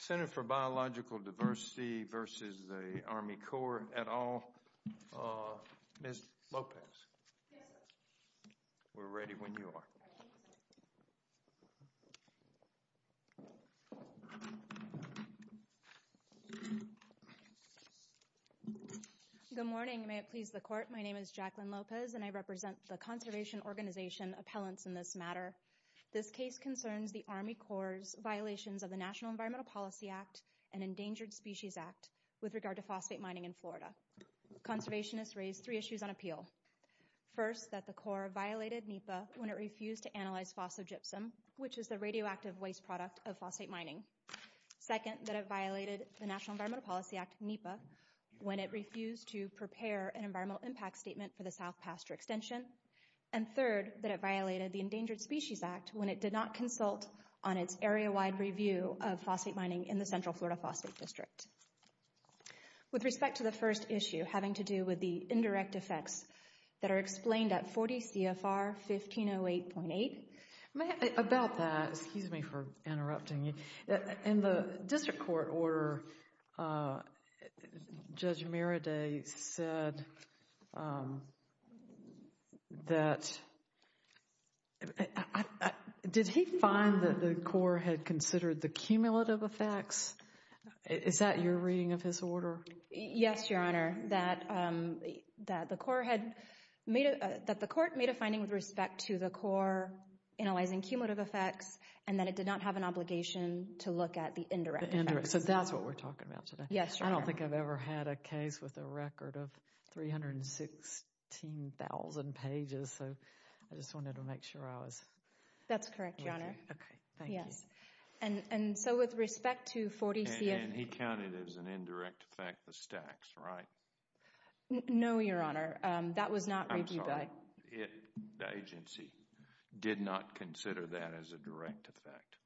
Senator for Biological Diversity v. Army Corps et al., Ms. Lopez, we're ready when you are. Good morning. May it please the Court, my name is Jacqueline Lopez and I represent the Conservation Organization Appellants in this matter. This case concerns the Army Corps' violations of the National Environmental Policy Act and Endangered Species Act with regard to phosphate mining in Florida. Conservationists raised three issues on appeal. First, that the Corps violated NEPA when it refused to analyze phosphogypsum, which is the radioactive waste product of phosphate mining. Second, that it violated the National Environmental Policy Act, NEPA, when it refused to prepare an environmental impact statement for the South Pasture Extension. And third, that it violated the Endangered Species Act when it did not consult on its area-wide review of phosphate mining in the Central Florida Phosphate District. With respect to the first issue, having to do with the indirect effects that are explained at 40 CFR 1508.8. About that, excuse me for interrupting you. In the District Court order, Judge Miradei said that, did he find that the Corps had considered the cumulative effects? Is that your reading of his order? Yes, Your Honor. That the Court made a finding with respect to the Corps analyzing cumulative effects and that it did not have an obligation to look at the indirect effects. So that's what we're talking about today. Yes, Your Honor. I don't think I've ever had a case with a record of 316,000 pages, so I just wanted to make sure I was... That's correct, Your Honor. Okay. Thank you. Yes. And so with respect to 40 CFR... And he counted it as an indirect effect, the stacks, right? No, Your Honor. That was not reviewed by... I'm sorry. The agency did not consider that as a direct effect.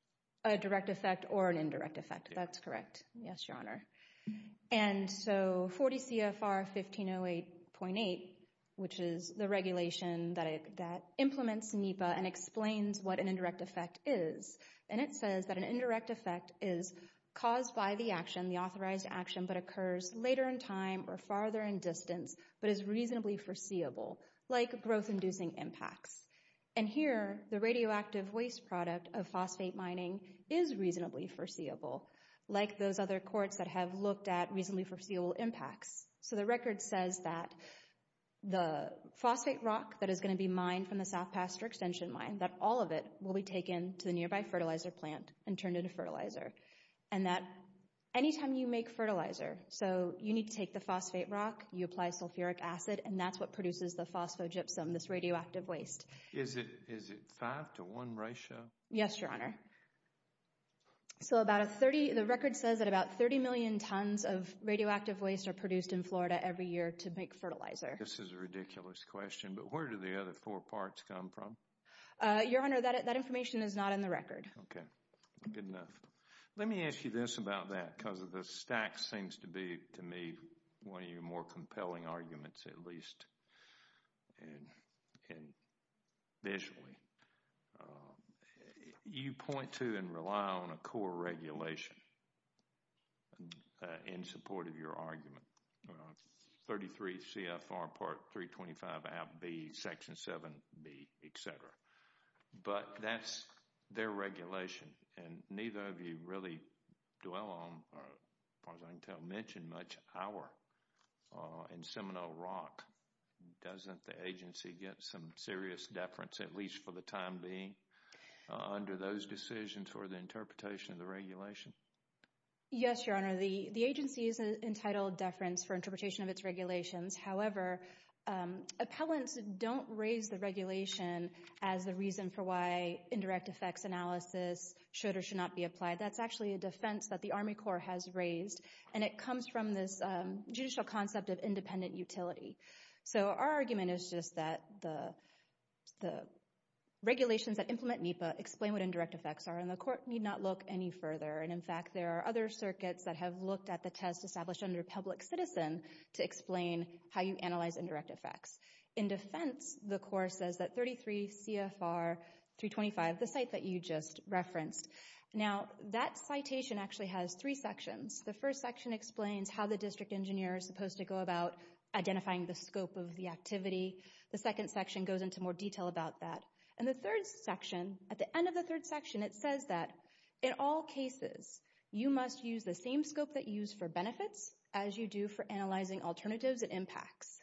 A direct effect or an indirect effect. That's correct. Yes, Your Honor. And so 40 CFR 1508.8, which is the regulation that implements NEPA and explains what an authorized action but occurs later in time or farther in distance, but is reasonably foreseeable, like growth-inducing impacts. And here, the radioactive waste product of phosphate mining is reasonably foreseeable, like those other courts that have looked at reasonably foreseeable impacts. So the record says that the phosphate rock that is going to be mined from the South Pasture Extension Mine, that all of it will be taken to the nearby fertilizer plant and turned into fertilizer. And that anytime you make fertilizer, so you need to take the phosphate rock, you apply sulfuric acid, and that's what produces the phosphogypsum, this radioactive waste. Is it five to one ratio? Yes, Your Honor. So about a 30... The record says that about 30 million tons of radioactive waste are produced in Florida every year to make fertilizer. This is a ridiculous question, but where do the other four parts come from? Your Honor, that information is not in the record. Okay. Good enough. Let me ask you this about that, because the stack seems to be, to me, one of your more compelling arguments, at least visually. You point to and rely on a core regulation in support of your argument, 33 CFR Part 325 ABB, Section 7B, et cetera. But that's their regulation, and neither of you really dwell on, as far as I can tell, mention much of our in Seminole Rock. Doesn't the agency get some serious deference, at least for the time being, under those decisions for the interpretation of the regulation? Yes, Your Honor. The agency is entitled deference for interpretation of its regulations. However, appellants don't raise the regulation as the reason for why indirect effects analysis should or should not be applied. That's actually a defense that the Army Corps has raised, and it comes from this judicial concept of independent utility. So our argument is just that the regulations that implement NEPA explain what indirect effects are, and the court need not look any further. And in fact, there are other circuits that have looked at the test established under public citizen to explain how you analyze indirect effects. In defense, the court says that 33 CFR 325, the site that you just referenced, now that citation actually has three sections. The first section explains how the district engineer is supposed to go about identifying the scope of the activity. The second section goes into more detail about that. And the third section, at the end of the third section, it says that in all cases, you must use the same scope that you use for benefits as you do for analyzing alternatives and impacts.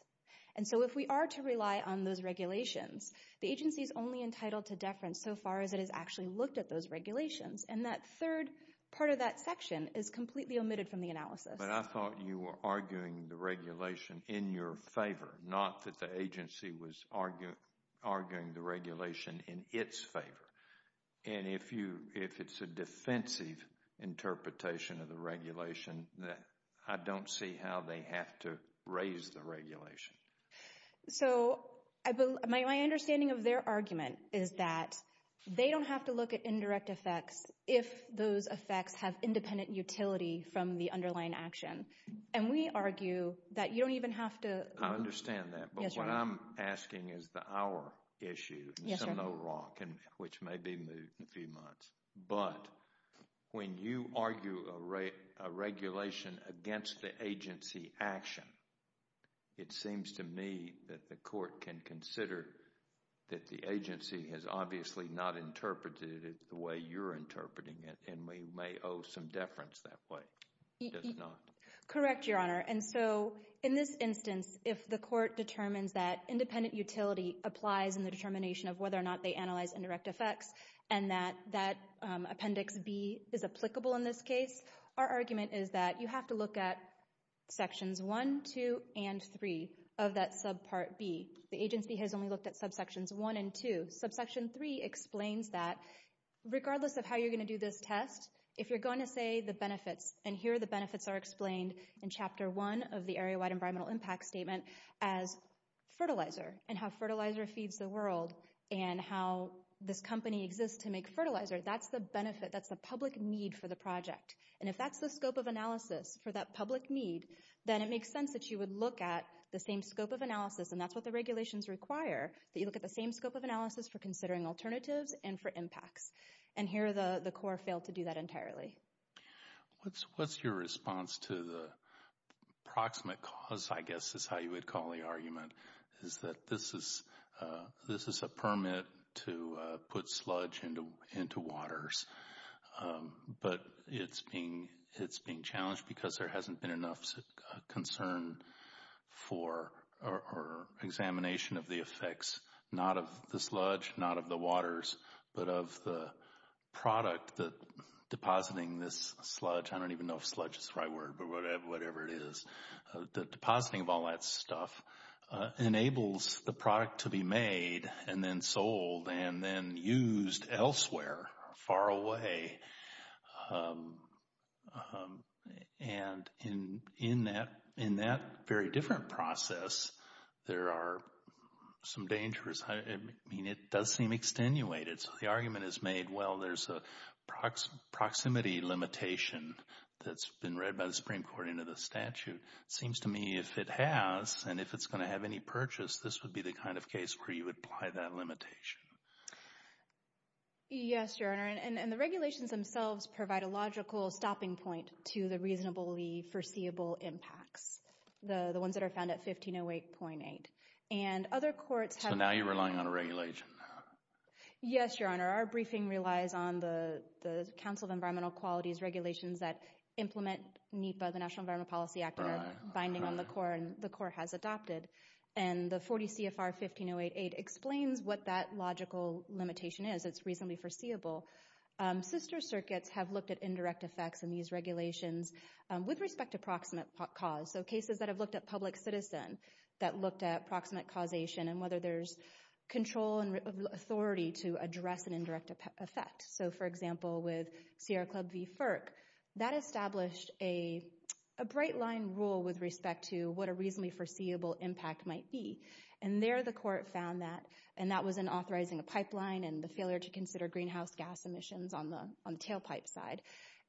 And so if we are to rely on those regulations, the agency is only entitled to deference so far as it has actually looked at those regulations, and that third part of that section is completely omitted from the analysis. But I thought you were arguing the regulation in your favor, not that the agency was arguing the regulation in its favor. And if it's a defensive interpretation of the regulation, I don't see how they have to raise the regulation. So my understanding of their argument is that they don't have to look at indirect effects if those effects have independent utility from the underlying action. And we argue that you don't even have to... I understand that. Yes, Your Honor. Which may be moved in a few months. But when you argue a regulation against the agency action, it seems to me that the court can consider that the agency has obviously not interpreted it the way you're interpreting it, and we may owe some deference that way, does it not? Correct, Your Honor. And so in this instance, if the court determines that independent utility applies in the determination of whether or not they analyze indirect effects, and that Appendix B is applicable in this case, our argument is that you have to look at Sections 1, 2, and 3 of that Subpart B. The agency has only looked at Subsections 1 and 2. Subsection 3 explains that regardless of how you're going to do this test, if you're going to say the benefits, and here the benefits are explained in Chapter 1 of the Area-Wide and how this company exists to make fertilizer, that's the benefit, that's the public need for the project. And if that's the scope of analysis for that public need, then it makes sense that you would look at the same scope of analysis, and that's what the regulations require, that you look at the same scope of analysis for considering alternatives and for impacts. And here the court failed to do that entirely. What's your response to the proximate cause, I guess is how you would call the argument, is that this is a permit to put sludge into waters, but it's being challenged because there hasn't been enough concern for examination of the effects, not of the sludge, not of the waters, but of the product that depositing this sludge, I don't even know if sludge is the right word, but whatever it is, the depositing of all that stuff enables the product to be made and then sold and then used elsewhere, far away, and in that very different process, there are some dangers. It does seem extenuated, so the argument is made, well, there's a proximity limitation that's been read by the Supreme Court into the statute. Seems to me if it has, and if it's going to have any purchase, this would be the kind of case where you would apply that limitation. Yes, Your Honor, and the regulations themselves provide a logical stopping point to the reasonably foreseeable impacts, the ones that are found at 1508.8. And other courts have... Yes, Your Honor. Our briefing relies on the Council of Environmental Qualities regulations that implement NEPA, the National Environmental Policy Act binding on the Corps, and the Corps has adopted. And the 40 CFR 1508.8 explains what that logical limitation is. It's reasonably foreseeable. Sister circuits have looked at indirect effects in these regulations with respect to proximate cause, so cases that have looked at public citizen, that looked at proximate causation and whether there's control and authority to address an indirect effect. So for example, with Sierra Club v. FERC, that established a bright line rule with respect to what a reasonably foreseeable impact might be. And there the court found that, and that was in authorizing a pipeline and the failure to consider greenhouse gas emissions on the tailpipe side.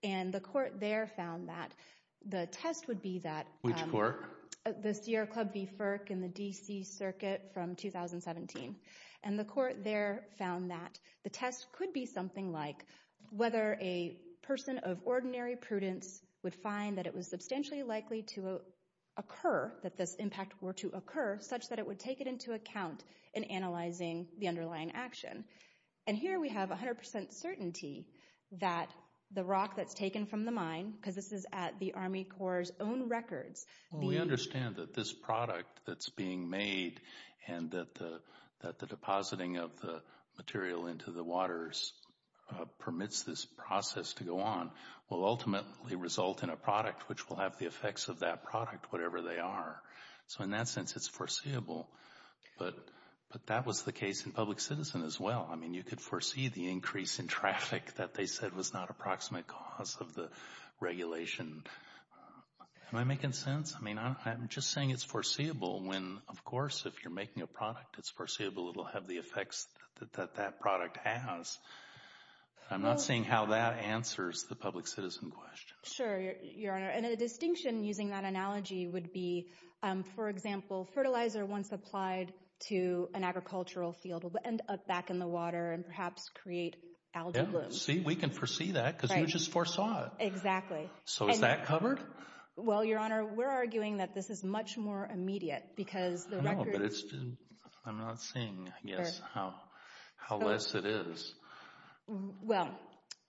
And the court there found that the test would be that... Which court? The Sierra Club v. FERC in the D.C. circuit from 2017. And the court there found that the test could be something like whether a person of ordinary prudence would find that it was substantially likely to occur, that this impact were to occur, such that it would take it into account in analyzing the underlying action. And here we have 100% certainty that the rock that's taken from the mine, because this is at the Army Corps' own records. We understand that this product that's being made and that the depositing of the material into the waters permits this process to go on, will ultimately result in a product which will have the effects of that product, whatever they are. So in that sense, it's foreseeable, but that was the case in public citizen as well. I mean, you could foresee the increase in traffic that they said was not a proximate cause of the regulation. Am I making sense? I mean, I'm just saying it's foreseeable when, of course, if you're making a product, it's foreseeable it'll have the effects that that product has. I'm not seeing how that answers the public citizen question. Sure, Your Honor. And a distinction using that analogy would be, for example, fertilizer once applied to an agricultural field will end up back in the water and perhaps create algae bloom. See, we can foresee that because you just foresaw it. Exactly. So is that covered? Well, Your Honor, we're arguing that this is much more immediate because the record... I know, but I'm not seeing, I guess, how less it is. Well,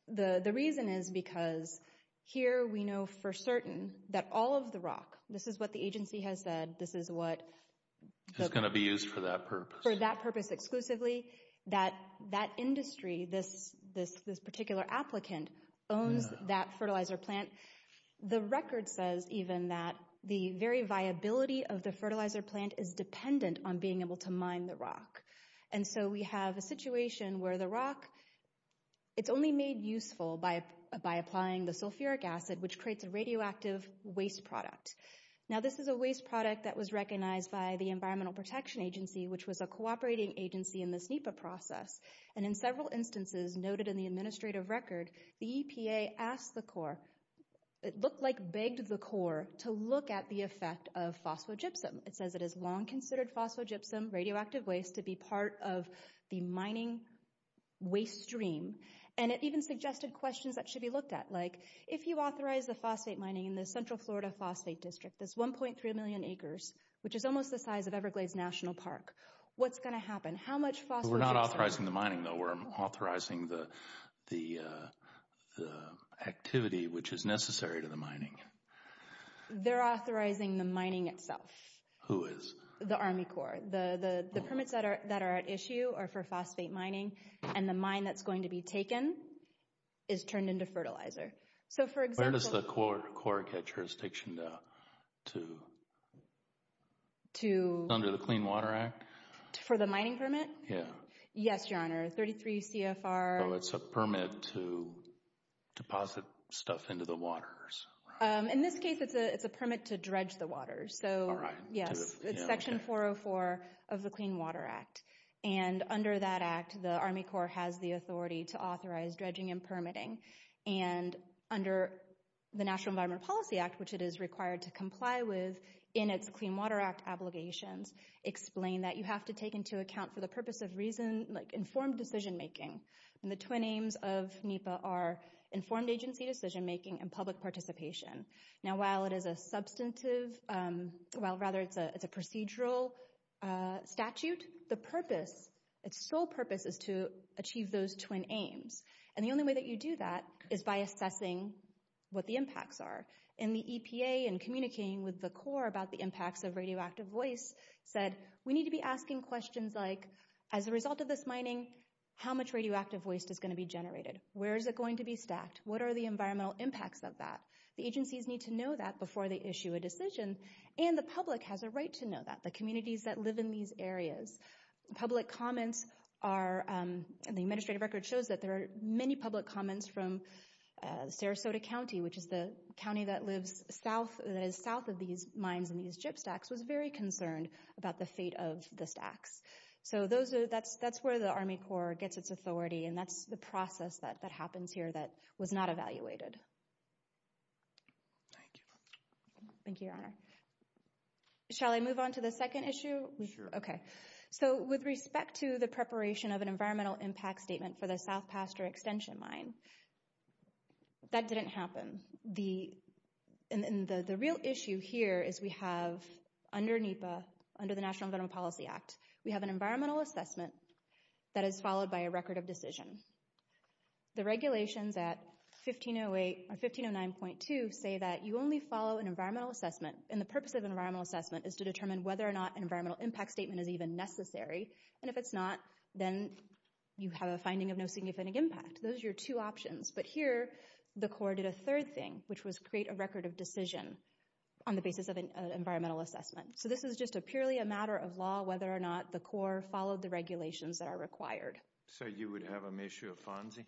the reason is because here we know for certain that all of the rock, this is what the agency has said, this is what... It's going to be used for that purpose. For that purpose exclusively, that industry, this particular applicant owns that fertilizer plant. The record says even that the very viability of the fertilizer plant is dependent on being able to mine the rock. And so we have a situation where the rock, it's only made useful by applying the sulfuric acid, which creates a radioactive waste product. Now this is a waste product that was recognized by the Environmental Protection Agency, which was a cooperating agency in this NEPA process. And in several instances noted in the administrative record, the EPA asked the Corps, it looked like begged the Corps, to look at the effect of phosphogypsum. It says it has long considered phosphogypsum, radioactive waste, to be part of the mining waste stream. And it even suggested questions that should be looked at, like if you authorize the phosphate mining in the Central Florida Phosphate District, this 1.3 million acres, which is almost the What's going to happen? How much phosphogypsum? We're not authorizing the mining though, we're authorizing the activity which is necessary to the mining. They're authorizing the mining itself. Who is? The Army Corps. The permits that are at issue are for phosphate mining, and the mine that's going to be taken is turned into fertilizer. So for example... Where does the Corps get jurisdiction to? Under the Clean Water Act? For the mining permit? Yeah. Yes, Your Honor. 33 CFR... So it's a permit to deposit stuff into the waters. In this case, it's a permit to dredge the waters. So yes, it's Section 404 of the Clean Water Act. And under that act, the Army Corps has the authority to authorize dredging and permitting. And under the National Environment Policy Act, which it is required to comply with in its Clean Water Act obligations, explain that you have to take into account for the purpose of reason, like informed decision-making, and the twin aims of NEPA are informed agency decision-making and public participation. Now while it is a substantive, well rather it's a procedural statute, the purpose, its sole purpose is to achieve those twin aims. And the only way that you do that is by assessing what the impacts are. In the EPA, in communicating with the Corps about the impacts of radioactive waste, said we need to be asking questions like, as a result of this mining, how much radioactive waste is going to be generated? Where is it going to be stacked? What are the environmental impacts of that? The agencies need to know that before they issue a decision, and the public has a right to know that, the communities that live in these areas. Public comments are, and the administrative record shows that there are many public comments from Sarasota County, which is the county that lives south, that is south of these mines and these chip stacks, was very concerned about the fate of the stacks. So that's where the Army Corps gets its authority, and that's the process that happens here that was not evaluated. Thank you. Thank you, Your Honor. Shall I move on to the second issue? Sure. So, with respect to the preparation of an environmental impact statement for the South Pasture Extension Mine, that didn't happen. The real issue here is we have, under NEPA, under the National Environmental Policy Act, we have an environmental assessment that is followed by a record of decision. The regulations at 1508, or 1509.2, say that you only follow an environmental assessment, and the purpose of an environmental assessment is to determine whether or not an environmental impact statement is even necessary, and if it's not, then you have a finding of no significant impact. Those are your two options. But here, the Corps did a third thing, which was create a record of decision on the basis of an environmental assessment. So this is just purely a matter of law, whether or not the Corps followed the regulations that are required. So you would have an issue of FONSI?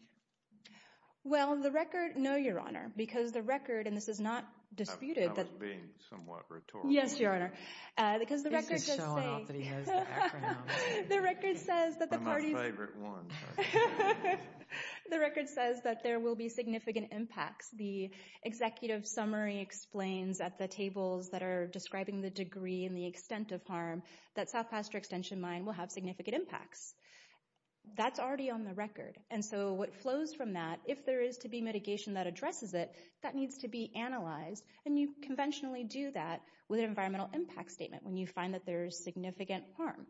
Well, the record, no, Your Honor. Because the record, and this is not disputed. I was being somewhat rhetorical. Yes, Your Honor. This is showing off that he knows the acronym. The record says that the parties... I'm a favorite one. The record says that there will be significant impacts. The executive summary explains at the tables that are describing the degree and the extent of harm that South Pasture Extension Mine will have significant impacts. That's already on the record. And so what flows from that, if there is to be mitigation that addresses it, that needs to be analyzed, and you conventionally do that with an environmental impact statement when you find that there is significant harm.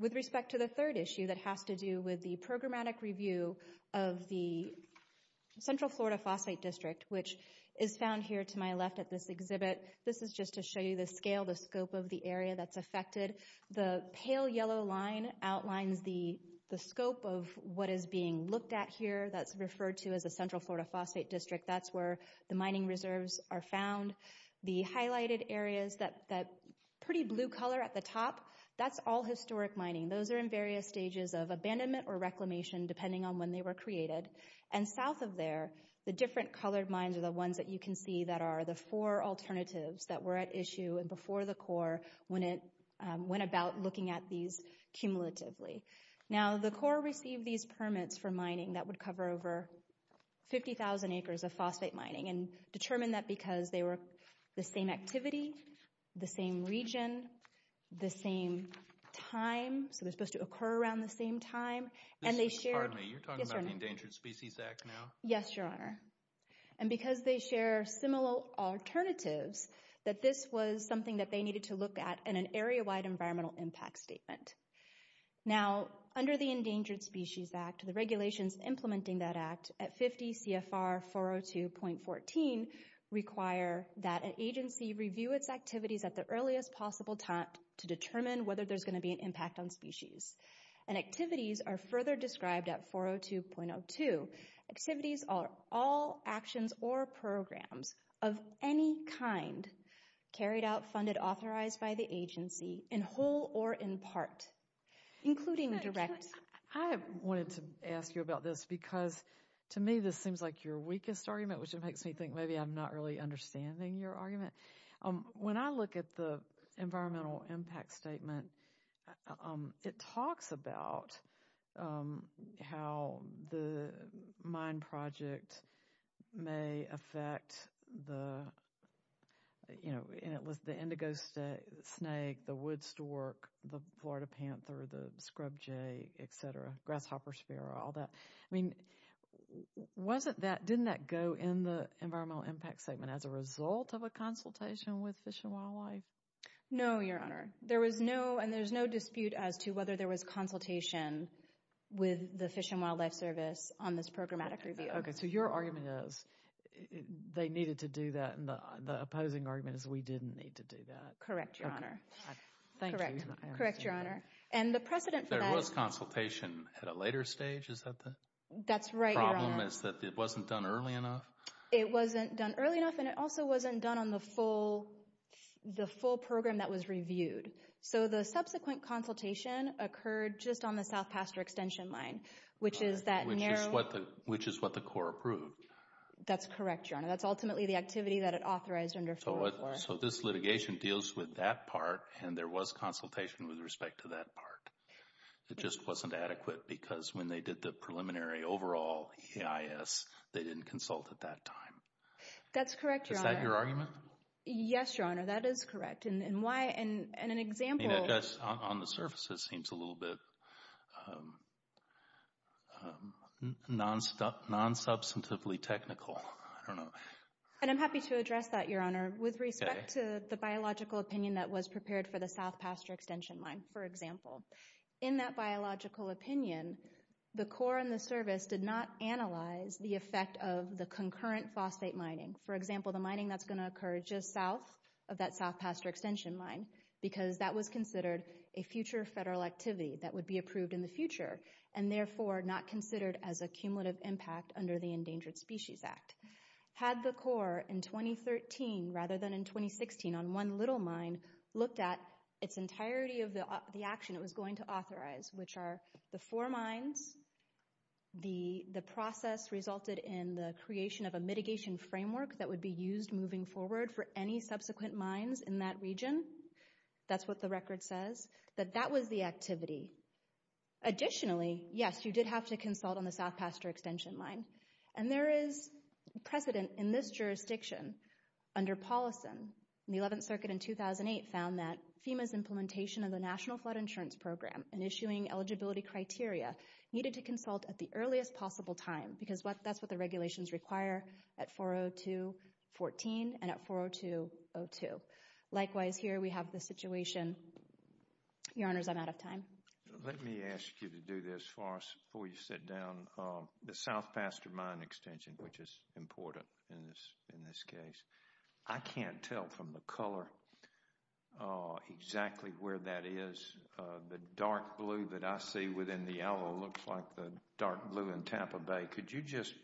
With respect to the third issue that has to do with the programmatic review of the Central Florida Phosphate District, which is found here to my left at this exhibit. This is just to show you the scale, the scope of the area that's affected. The pale yellow line outlines the scope of what is being looked at here. That's referred to as the Central Florida Phosphate District. That's where the mining reserves are found. The highlighted areas, that pretty blue color at the top, that's all historic mining. Those are in various stages of abandonment or reclamation, depending on when they were created. And south of there, the different colored mines are the ones that you can see that are the four alternatives that were at issue and before the Corps when it went about looking at these cumulatively. Now, the Corps received these permits for mining that would cover over 50,000 acres of phosphate mining and determined that because they were the same activity, the same region, the same time, so they're supposed to occur around the same time, and they shared... Pardon me, you're talking about the Endangered Species Act now? Yes, Your Honor. And because they share similar alternatives, that this was something that they needed to look at in an area-wide environmental impact statement. Now, under the Endangered Species Act, the regulations implementing that act at 50 CFR 402.14 require that an agency review its activities at the earliest possible time to determine whether there's going to be an impact on species. And activities are further described at 402.02. Activities are all actions or programs of any kind carried out, funded, authorized by the agency in whole or in part, including direct... I wanted to ask you about this because, to me, this seems like your weakest argument, which makes me think maybe I'm not really understanding your argument. When I look at the environmental impact statement, it talks about how the mine project may affect the indigo snake, the wood stork, the Florida panther, the scrub jay, et cetera, grasshopper sphera, all that. I mean, wasn't that, didn't that go in the environmental impact statement as a result of a consultation with Fish and Wildlife? No, Your Honor. There was no, and there's no dispute as to whether there was consultation with the Fish and Wildlife Service on this programmatic review. Okay, so your argument is they needed to do that, and the opposing argument is we didn't need to do that. Correct, Your Honor. Thank you. Correct, Your Honor. And the precedent for that... There was consultation at a later stage, is that the... That's right, Your Honor. ...problem is that it wasn't done early enough? It wasn't done early enough, and it also wasn't done on the full program that was reviewed. So the subsequent consultation occurred just on the South Pasture Extension Line, which is that narrow... Which is what the Corps approved. That's correct, Your Honor. That's ultimately the activity that it authorized under 404. So this litigation deals with that part, and there was consultation with respect to that part. It just wasn't adequate because when they did the preliminary overall EIS, they didn't consult at that time. That's correct, Your Honor. Is that your argument? Yes, Your Honor. That is correct. And why, and an example... I mean, on the surface, it seems a little bit non-substantively technical, I don't know. And I'm happy to address that, Your Honor, with respect to the biological opinion that was prepared for the South Pasture Extension Line, for example. In that biological opinion, the Corps and the service did not analyze the effect of the concurrent phosphate mining. For example, the mining that's going to occur just south of that South Pasture Extension Line, because that was considered a future federal activity that would be approved in the future, and therefore not considered as a cumulative impact under the Endangered Species Act. Had the Corps, in 2013 rather than in 2016, on one little mine, looked at its entirety of the action it was going to authorize, which are the four mines, the process resulted in the creation of a mitigation framework that would be used moving forward for any subsequent mines in that region. That's what the record says, that that was the activity. Additionally, yes, you did have to consult on the South Pasture Extension Line. And there is precedent in this jurisdiction under Paulson, the 11th Circuit in 2008 found that FEMA's implementation of the National Flood Insurance Program and issuing eligibility criteria needed to consult at the earliest possible time, because that's what the regulations require at 4.02.14 and at 4.02.02. Likewise, here we have the situation, Your Honors, I'm out of time. Let me ask you to do this for us before you sit down. The South Pasture Mine Extension, which is important in this case, I can't tell from the color exactly where that is. The dark blue that I see within the yellow looks like the dark blue in Tampa Bay. Could you just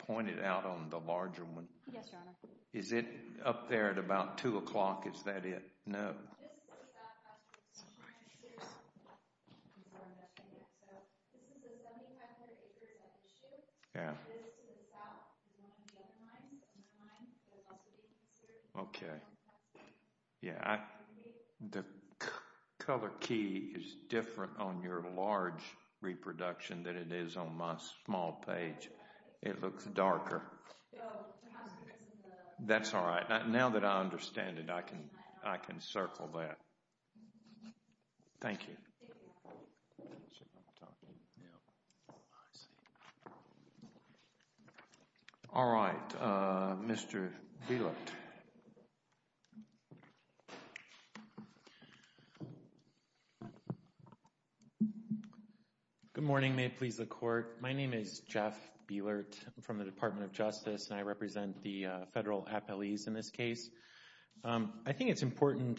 point it out on the larger one? Yes, Your Honor. Is it up there at about 2 o'clock? Is that it? No. This is the South Pasture Extension Line. This is the 7,500 acres at issue. It is to the south of one of the other mines. Another mine is also being considered. Okay. Yeah, I, the color key is different on your large reproduction than it is on my small page. It looks darker. That's all right. Now that I understand it, I can circle that. Thank you. All right. Mr. Bielut. Good morning. May it please the Court. My name is Charles Bielut. I represent the federal appellees in this case. I think it's important,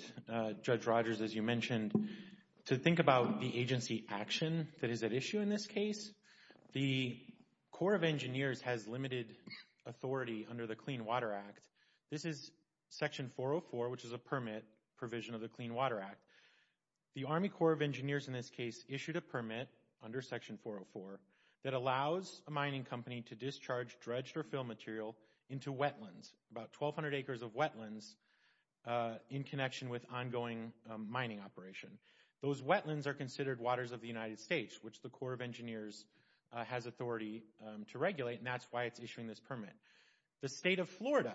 Judge Rogers, as you mentioned, to think about the agency action that is at issue in this case. The Corps of Engineers has limited authority under the Clean Water Act. This is Section 404, which is a permit provision of the Clean Water Act. The Army Corps of Engineers in this case issued a permit under Section 404 that allows a mining company to discharge dredged or fill material into wetlands, about 1,200 acres of wetlands, in connection with ongoing mining operation. Those wetlands are considered waters of the United States, which the Corps of Engineers has authority to regulate, and that's why it's issuing this permit. The state of Florida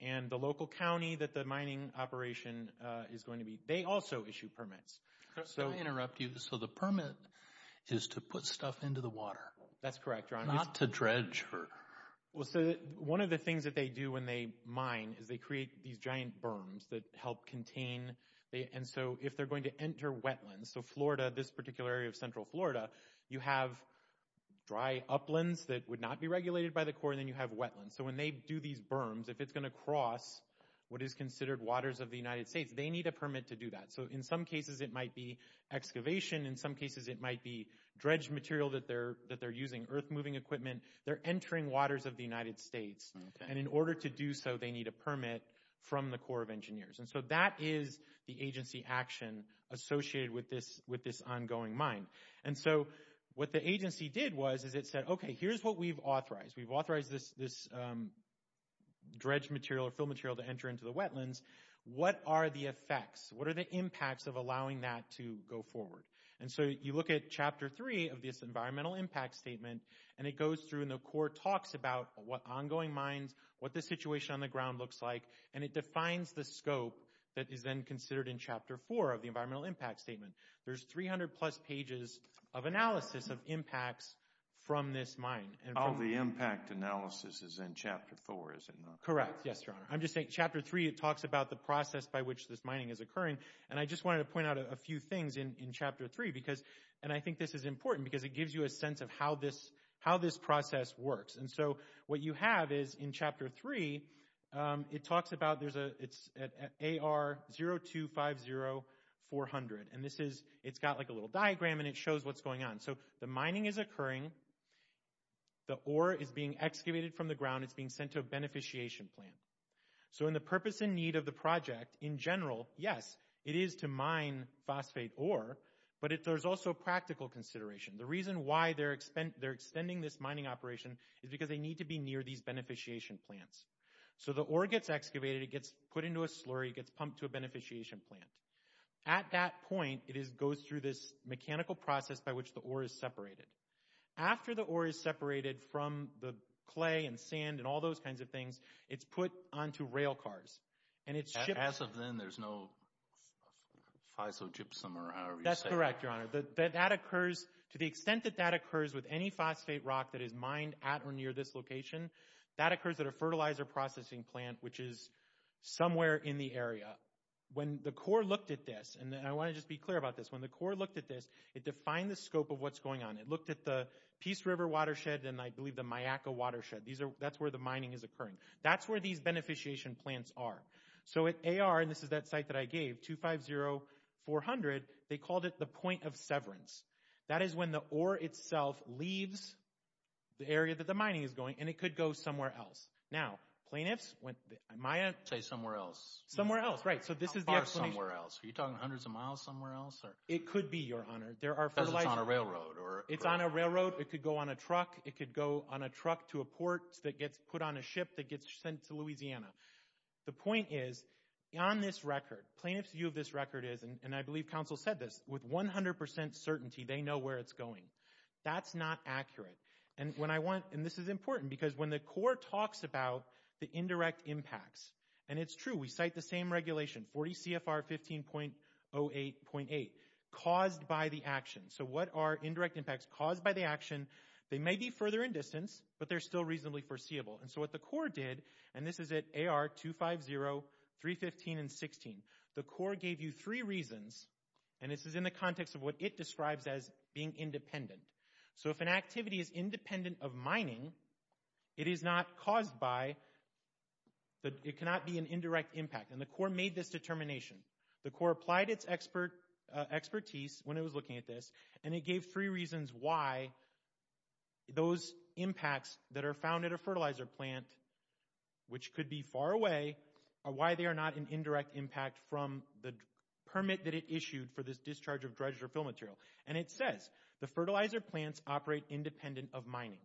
and the local county that the mining operation is going to be, they also issue permits. So... Could I interrupt you? So the permit is to put stuff into the water? That's correct, Your Honor. Not to dredge? Well, so one of the things that they do when they mine is they create these giant berms that help contain. And so if they're going to enter wetlands, so Florida, this particular area of central Florida, you have dry uplands that would not be regulated by the Corps, and then you have wetlands. So when they do these berms, if it's going to cross what is considered waters of the United States, they need a permit to do that. So in some cases, it might be excavation. In some cases, it might be dredged material that they're using, earth-moving equipment. They're entering waters of the United States, and in order to do so, they need a permit from the Corps of Engineers. And so that is the agency action associated with this ongoing mine. And so what the agency did was is it said, okay, here's what we've authorized. We've authorized this dredged material or fill material to enter into the wetlands. What are the effects? What are the impacts of allowing that to go forward? And so you look at Chapter 3 of this environmental impact statement, and it goes through, and the Corps talks about what ongoing mines, what the situation on the ground looks like, and it defines the scope that is then considered in Chapter 4 of the environmental impact statement. There's 300-plus pages of analysis of impacts from this mine. All the impact analysis is in Chapter 4, is it not? Correct. Yes, Your Honor. I'm just saying Chapter 3, it talks about the process by which this mining is occurring, and I just wanted to point out a few things in Chapter 3, and I think this is important because it gives you a sense of how this process works. And so what you have is in Chapter 3, it talks about it's AR-0250-400, and it's got like a little diagram, and it shows what's going on. So the mining is occurring, the ore is being excavated from the ground, it's being sent to a beneficiation plant. So in the purpose and need of the project, in general, yes, it is to mine phosphate ore, but there's also practical consideration. The reason why they're extending this mining operation is because they need to be near these beneficiation plants. So the ore gets excavated, it gets put into a slurry, it gets pumped to a beneficiation plant. At that point, it goes through this mechanical process by which the ore is separated. After the ore is separated from the clay and sand and all those kinds of things, it's put onto railcars, and it's shipped. As of then, there's no fissile gypsum or however you say it. That's correct, Your Honor. That occurs, to the extent that that occurs with any phosphate rock that is mined at or near this location, that occurs at a fertilizer processing plant, which is somewhere in the area. When the Corps looked at this, and I want to just be clear about this, when the Corps looked at this, it defined the scope of what's going on. It looked at the Peace River Watershed, and I believe the Myakka Watershed. That's where the mining is occurring. That's where these beneficiation plants are. So at AR, and this is that site that I gave, 250400, they called it the point of severance. That is when the ore itself leaves the area that the mining is going, and it could go somewhere else. Now, plaintiffs, am I in? Say somewhere else. Somewhere else, right. So this is the explanation. How far somewhere else? Are you talking hundreds of miles somewhere else? It could be, Your Honor. Because it's on a railroad. It's on a railroad. It could go on a truck. It could go on a truck to a port that gets put on a ship that gets sent to Louisiana. The point is, on this record, plaintiff's view of this record is, and I believe counsel said this, with 100% certainty, they know where it's going. That's not accurate. And when I want, and this is important, because when the Corps talks about the indirect impacts, and it's true, we cite the same regulation, 40 CFR 15.08.8, caused by the action. So what are indirect impacts caused by the action? They may be further in distance, but they're still reasonably foreseeable. And so what the Corps did, and this is at AR 250, 315, and 16, the Corps gave you three reasons, and this is in the context of what it describes as being independent. So if an activity is independent of mining, it is not caused by, it cannot be an indirect impact. And the Corps made this determination. The Corps applied its expertise when it was looking at this, and it gave three reasons why those impacts that are found at a fertilizer plant, which could be far away, why they are not an indirect impact from the permit that it issued for this discharge of dredged or fill material. And it says, the fertilizer plants operate independent of mining.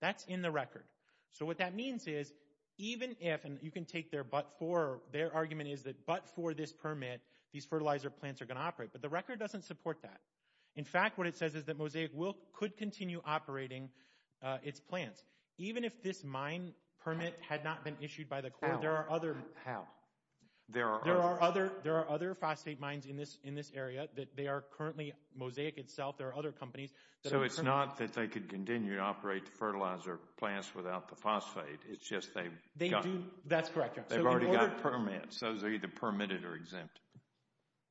That's in the record. So what that means is, even if, and you can take their but for, their argument is that but for this permit, these fertilizer plants are going to operate, but the record doesn't support that. In fact, what it says is that Mosaic will, could continue operating its plants. Even if this mine permit had not been issued by the Corps, there are other, there are other, there are other phosphate mines in this, in this area that they are currently, Mosaic itself, there are other companies. So it's not that they could continue to operate the fertilizer plants without the phosphate, it's just they've gotten, that's correct, they've already got permits, those are either permitted or exempt.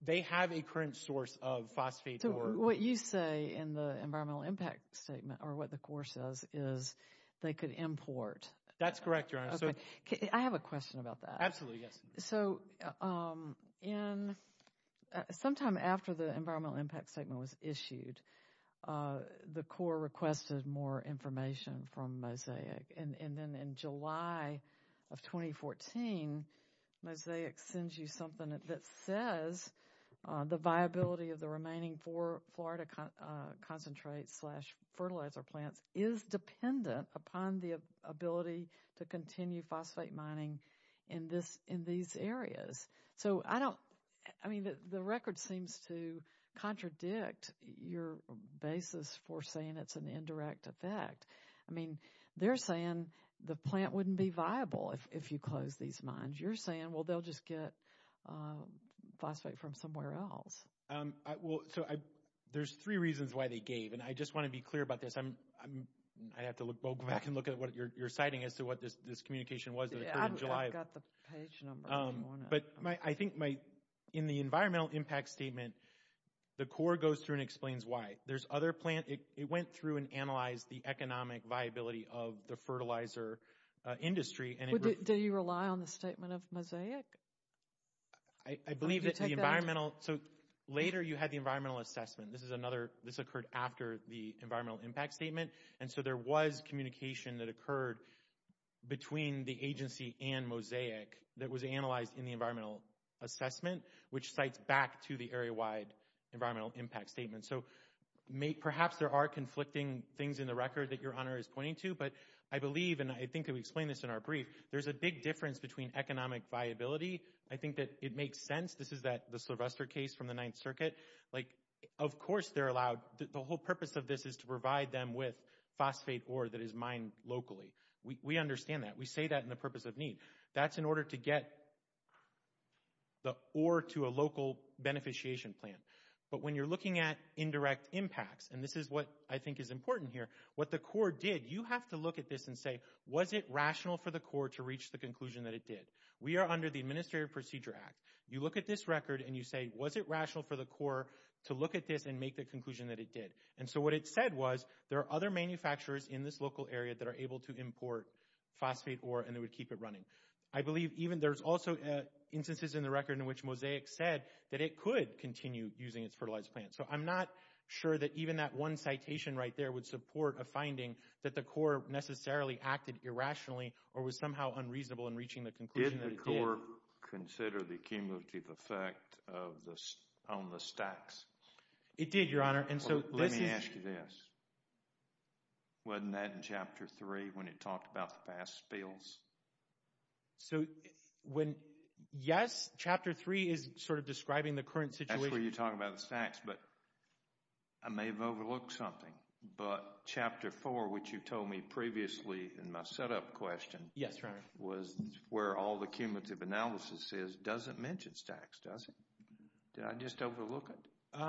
They have a current source of phosphate, so what you say in the environmental impact statement or what the Corps says is they could import. That's correct, Your Honor. So I have a question about that. Absolutely. Yes. So in, sometime after the environmental impact statement was issued, the Corps requested more information from Mosaic and then in July of 2014, Mosaic sends you something that says the viability of the remaining four Florida concentrate slash fertilizer plants is dependent upon the ability to continue phosphate mining in this, in these areas. So I don't, I mean, the record seems to contradict your basis for saying it's an indirect effect. I mean, they're saying the plant wouldn't be viable if you close these mines. You're saying, well, they'll just get phosphate from somewhere else. Well, so I, there's three reasons why they gave, and I just want to be clear about this. I'm, I have to look, go back and look at what you're citing as to what this communication was that occurred in July. I've got the page number if you want it. But my, I think my, in the environmental impact statement, the Corps goes through and explains why. There's other plant, it went through and analyzed the economic viability of the fertilizer industry and it- Do you rely on the statement of Mosaic? I believe that the environmental, so later you had the environmental assessment. This is another, this occurred after the environmental impact statement. And so there was communication that occurred between the agency and Mosaic that was analyzed in the environmental assessment, which cites back to the area-wide environmental impact statement. So perhaps there are conflicting things in the record that your Honor is pointing to, but I believe, and I think we explained this in our brief, there's a big difference between economic viability. I think that it makes sense. This is that, the Sylvester case from the Ninth Circuit. Like, of course they're allowed, the whole purpose of this is to provide them with phosphate ore that is mined locally. We understand that. We say that in the purpose of need. That's in order to get the ore to a local beneficiation plant. But when you're looking at indirect impacts, and this is what I think is important here, what the Corps did, you have to look at this and say, was it rational for the Corps to reach the conclusion that it did? We are under the Administrative Procedure Act. You look at this record and you say, was it rational for the Corps to look at this and make the conclusion that it did? And so what it said was, there are other manufacturers in this local area that are able to import phosphate ore and they would keep it running. I believe even, there's also instances in the record in which Mosaic said that it could continue using its fertilized plants. So I'm not sure that even that one citation right there would support a finding that the Corps necessarily acted irrationally or was somehow unreasonable in reaching the conclusion that it did. Did the Corps consider the cumulative effect on the stacks? It did, Your Honor. Let me ask you this, wasn't that in Chapter 3 when it talked about the past spills? So when, yes, Chapter 3 is sort of describing the current situation. That's where you talk about the stacks, but I may have overlooked something. But Chapter 4, which you told me previously in my setup question, was where all the cumulative analysis is, doesn't mention stacks, does it? Did I just overlook it?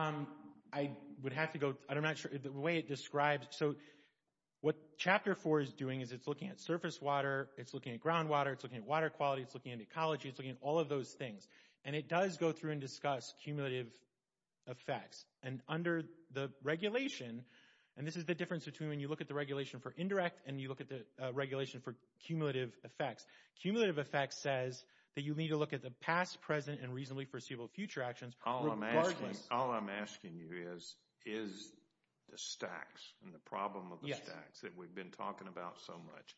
I would have to go, I'm not sure, the way it describes, so what Chapter 4 is doing is it's looking at surface water, it's looking at groundwater, it's looking at water quality, it's looking at ecology, it's looking at all of those things. And it does go through and discuss cumulative effects. And under the regulation, and this is the difference between when you look at the regulation for indirect and you look at the regulation for cumulative effects. Cumulative effects says that you need to look at the past, present, and reasonably foreseeable future actions regardless. All I'm asking you is, is the stacks and the problem of the stacks that we've been talking about so much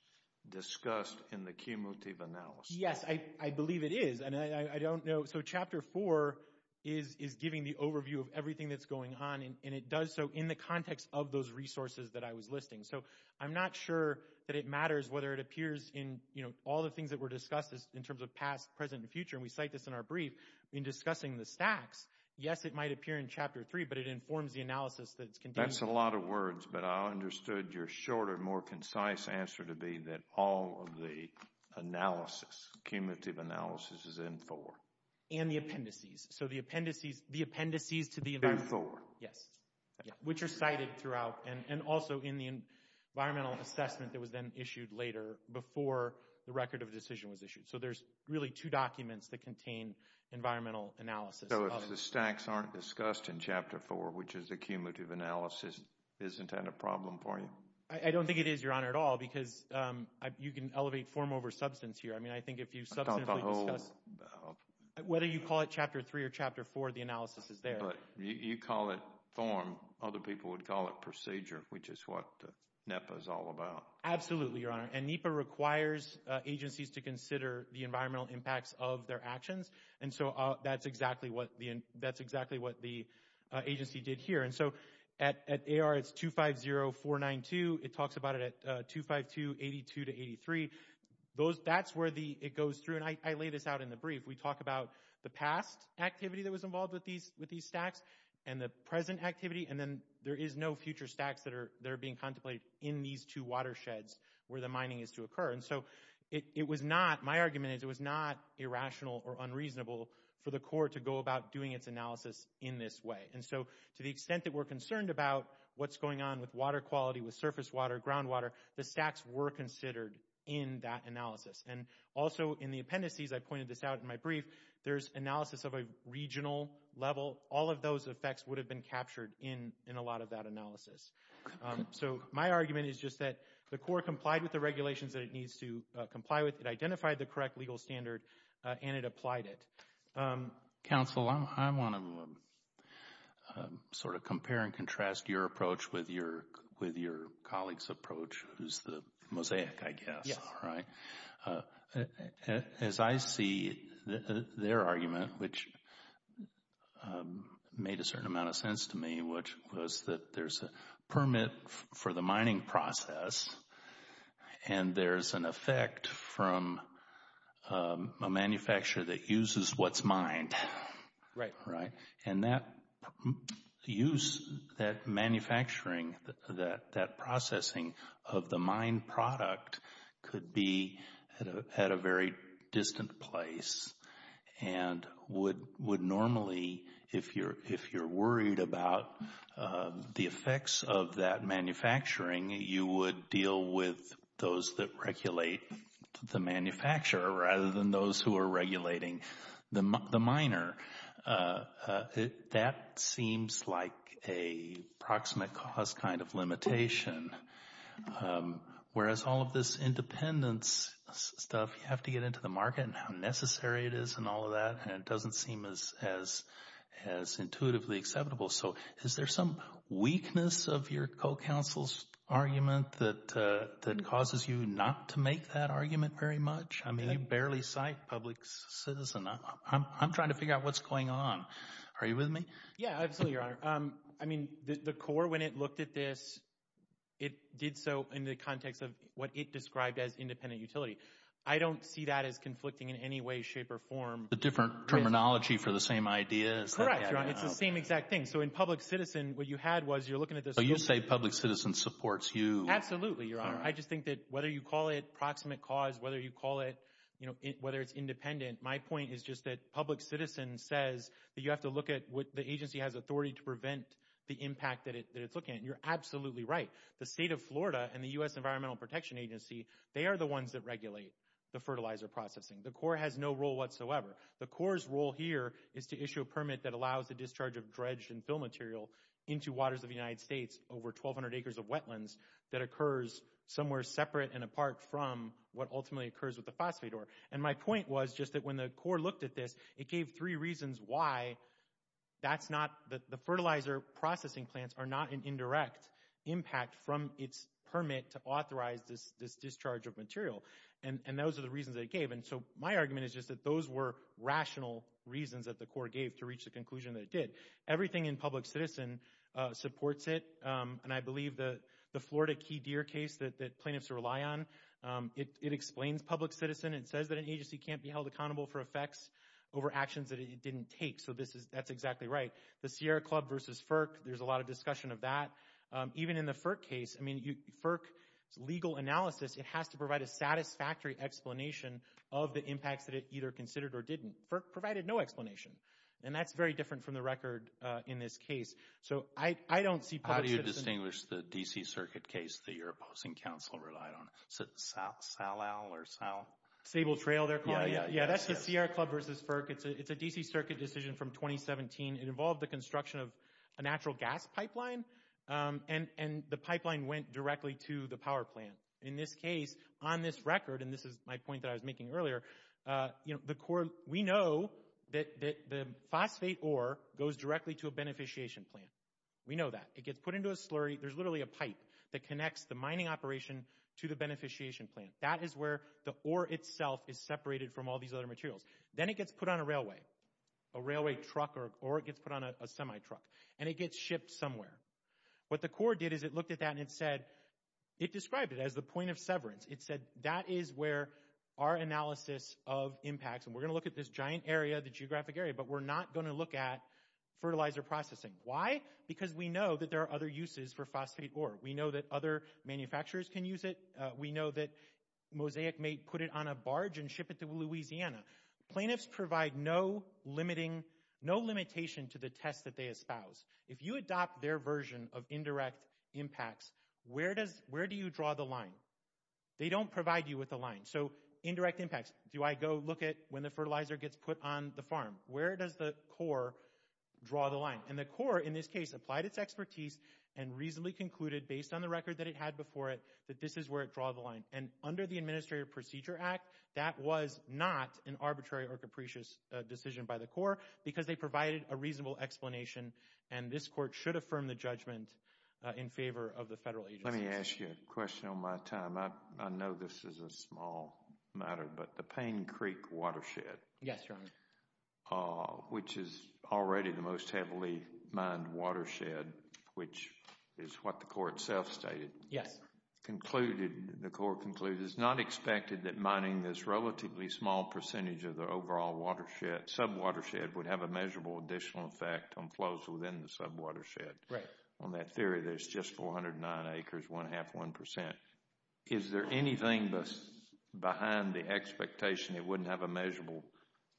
discussed in the cumulative analysis? Yes, I believe it is. And I don't know, so Chapter 4 is giving the overview of everything that's going on, and it does so in the context of those resources that I was listing. So, I'm not sure that it matters whether it appears in, you know, all the things that were discussed in terms of past, present, and future, and we cite this in our brief in discussing the stacks. Yes, it might appear in Chapter 3, but it informs the analysis that it's contained. That's a lot of words, but I understood your shorter, more concise answer to be that all of the analysis, cumulative analysis, is in 4. And the appendices. So, the appendices, the appendices to the event. In 4. Yes. Which are cited throughout, and also in the environmental assessment that was then issued later before the record of decision was issued. So, there's really two documents that contain environmental analysis. So, if the stacks aren't discussed in Chapter 4, which is the cumulative analysis, isn't that a problem for you? I don't think it is, Your Honor, at all, because you can elevate form over substance here. I mean, I think if you substantially discuss, whether you call it Chapter 3 or Chapter 4, the analysis is there. But, you call it form, other people would call it procedure, which is what NEPA is all about. Absolutely, Your Honor. And NEPA requires agencies to consider the environmental impacts of their actions. And so, that's exactly what the agency did here. And so, at AR, it's 250492. It talks about it at 25282-83. That's where it goes through, and I laid this out in the brief. We talk about the past activity that was involved with these stacks, and the present activity, and then there is no future stacks that are being contemplated in these two watersheds where the mining is to occur. And so, it was not, my argument is, it was not irrational or unreasonable for the court to go about doing its analysis in this way. And so, to the extent that we're concerned about what's going on with water quality, with surface water, ground water, the stacks were considered in that analysis. And also, in the appendices, I pointed this out in my brief, there's analysis of a regional level. All of those effects would have been captured in a lot of that analysis. So, my argument is just that the court complied with the regulations that it needs to comply with. It identified the correct legal standard, and it applied it. Counsel, I want to sort of compare and contrast your approach with your colleague's approach, who's the mosaic, I guess, right? As I see their argument, which made a certain amount of sense to me, which was that there's a permit for the mining process, and there's an effect from a manufacturer that uses what's mined. Right. Right. And that use, that manufacturing, that processing of the mined product could be at a very distant place and would normally, if you're worried about the effects of that manufacturing, you would deal with those that regulate the manufacturer rather than those who are regulating the miner. That seems like a proximate cause kind of limitation, whereas all of this independence stuff, you have to get into the market and how necessary it is and all of that, and it doesn't seem as intuitively acceptable. So, is there some weakness of your co-counsel's argument that causes you not to make that argument very much? I mean, you barely cite public citizen. I'm trying to figure out what's going on. Are you with me? Yeah, absolutely, Your Honor. I mean, the CORE, when it looked at this, it did so in the context of what it described as independent utility. I don't see that as conflicting in any way, shape, or form. The different terminology for the same idea is... Correct, Your Honor. It's the same exact thing. So, in public citizen, what you had was, you're looking at this... So, you say public citizen supports you. Absolutely, Your Honor. I just think that whether you call it proximate cause, whether you call it, you know, whether it's independent, my point is just that public citizen says that you have to look at what the agency has authority to prevent the impact that it's looking at, and you're absolutely right. The state of Florida and the U.S. Environmental Protection Agency, they are the ones that regulate the fertilizer processing. The CORE has no role whatsoever. The CORE's role here is to issue a permit that allows the discharge of dredge and fill material into waters of the United States, over 1,200 acres of wetlands, that occurs somewhere separate and apart from what ultimately occurs with the phosphate ore. And my point was just that when the CORE looked at this, it gave three reasons why that's not... The fertilizer processing plants are not an indirect impact from its permit to authorize this discharge of material, and those are the reasons that it gave. And so, my argument is just that those were rational reasons that the CORE gave to reach the conclusion that it did. Everything in public citizen supports it, and I believe the Florida key deer case that plaintiffs rely on, it explains public citizen. It says that an agency can't be held accountable for effects over actions that it didn't take. So, this is... That's exactly right. The Sierra Club versus FERC, there's a lot of discussion of that. Even in the FERC case, I mean, FERC's legal analysis, it has to provide a satisfactory explanation of the impacts that it either considered or didn't. FERC provided no explanation, and that's very different from the record in this case. So, I don't see public citizen... How do you distinguish the D.C. Circuit case that you're opposing counsel relied on? Salal or Sal... Sable Trail, they're calling it. Yeah, yeah, yeah. That's the Sierra Club versus FERC. It's a D.C. Circuit decision from 2017. It involved the construction of a natural gas pipeline, and the pipeline went directly to the power plant. In this case, on this record, and this is my point that I was making earlier, the CORE, we know that the phosphate ore goes directly to a beneficiation plant. We know that. It gets put into a slurry. There's literally a pipe that connects the mining operation to the beneficiation plant. That is where the ore itself is separated from all these other materials. Then it gets put on a railway, a railway truck, or it gets put on a semi-truck, and it gets shipped somewhere. What the CORE did is it looked at that and it said... It described it as the point of severance. It said, that is where our analysis of impacts, and we're going to look at this giant area, the geographic area, but we're not going to look at fertilizer processing. Why? Because we know that there are other uses for phosphate ore. We know that other manufacturers can use it. We know that Mosaic may put it on a barge and ship it to Louisiana. Plaintiffs provide no limitation to the test that they espouse. If you adopt their version of indirect impacts, where do you draw the line? They don't provide you with a line. Indirect impacts, do I go look at when the fertilizer gets put on the farm? Where does the CORE draw the line? The CORE, in this case, applied its expertise and reasonably concluded, based on the record that it had before it, that this is where it draws the line. Under the Administrative Procedure Act, that was not an arbitrary or capricious decision by the CORE because they provided a reasonable explanation, and this court should affirm the judgment in favor of the federal agency. Let me ask you a question on my time. I know this is a small matter, but the Payne Creek watershed... Yes, Your Honor. ...which is already the most heavily mined watershed, which is what the CORE itself stated... Yes. ...concluded, the CORE concluded, it's not expected that mining this relatively small percentage of the overall watershed, sub-watershed, would have a measurable additional effect on flows within the sub-watershed. Right. On that theory, there's just 409 acres, one-half, one percent. Is there anything behind the expectation it wouldn't have a measurable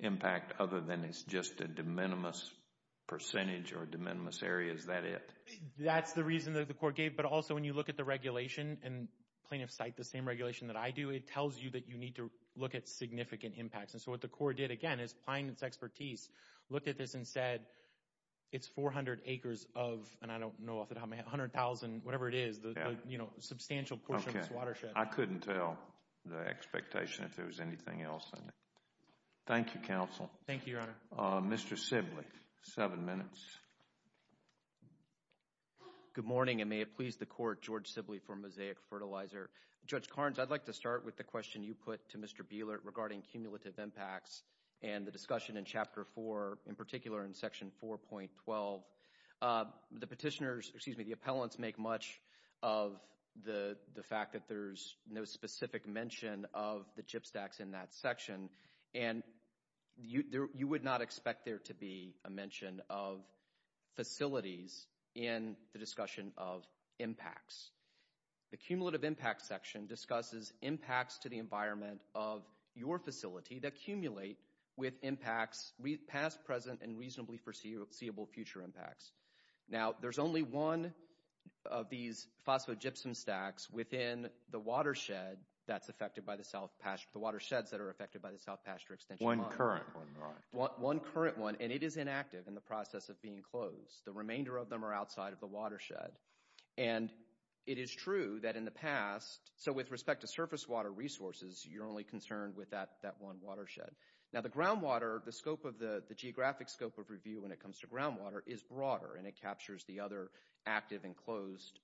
impact other than it's just a de minimis percentage or de minimis area? Is that it? That's the reason that the CORE gave, but also when you look at the regulation and Plaintiff Cite, the same regulation that I do, it tells you that you need to look at significant impacts. And so what the CORE did, again, is applying its expertise, looked at this and said, it's 400 acres of, and I don't know off the top of my head, 100,000, whatever it is, the, you know, substantial portion of this watershed. Okay. I couldn't tell the expectation if there was anything else in it. Thank you, Counsel. Thank you, Your Honor. Mr. Sibley, seven minutes. Good morning, and may it please the Court, George Sibley for Mosaic Fertilizer. Judge Carnes, I'd like to start with the question you put to Mr. Bielert regarding cumulative impacts and the discussion in Chapter 4, in particular in Section 4.12. The petitioners, excuse me, the appellants make much of the fact that there's no specific mention of the chip stacks in that section, and you would not expect there to be a mention of facilities in the discussion of impacts. The cumulative impact section discusses impacts to the environment of your facility that accumulate with impacts past, present, and reasonably foreseeable future impacts. Now, there's only one of these phosphogypsum stacks within the watershed that's affected by the South, the watersheds that are affected by the South Pasture Extension Line. One current one, right. One current one, and it is inactive in the process of being closed. The remainder of them are outside of the watershed, and it is true that in the past, so with respect to surface water resources, you're only concerned with that one watershed. Now, the groundwater, the geographic scope of review when it comes to groundwater is broader, and it captures the other active and closed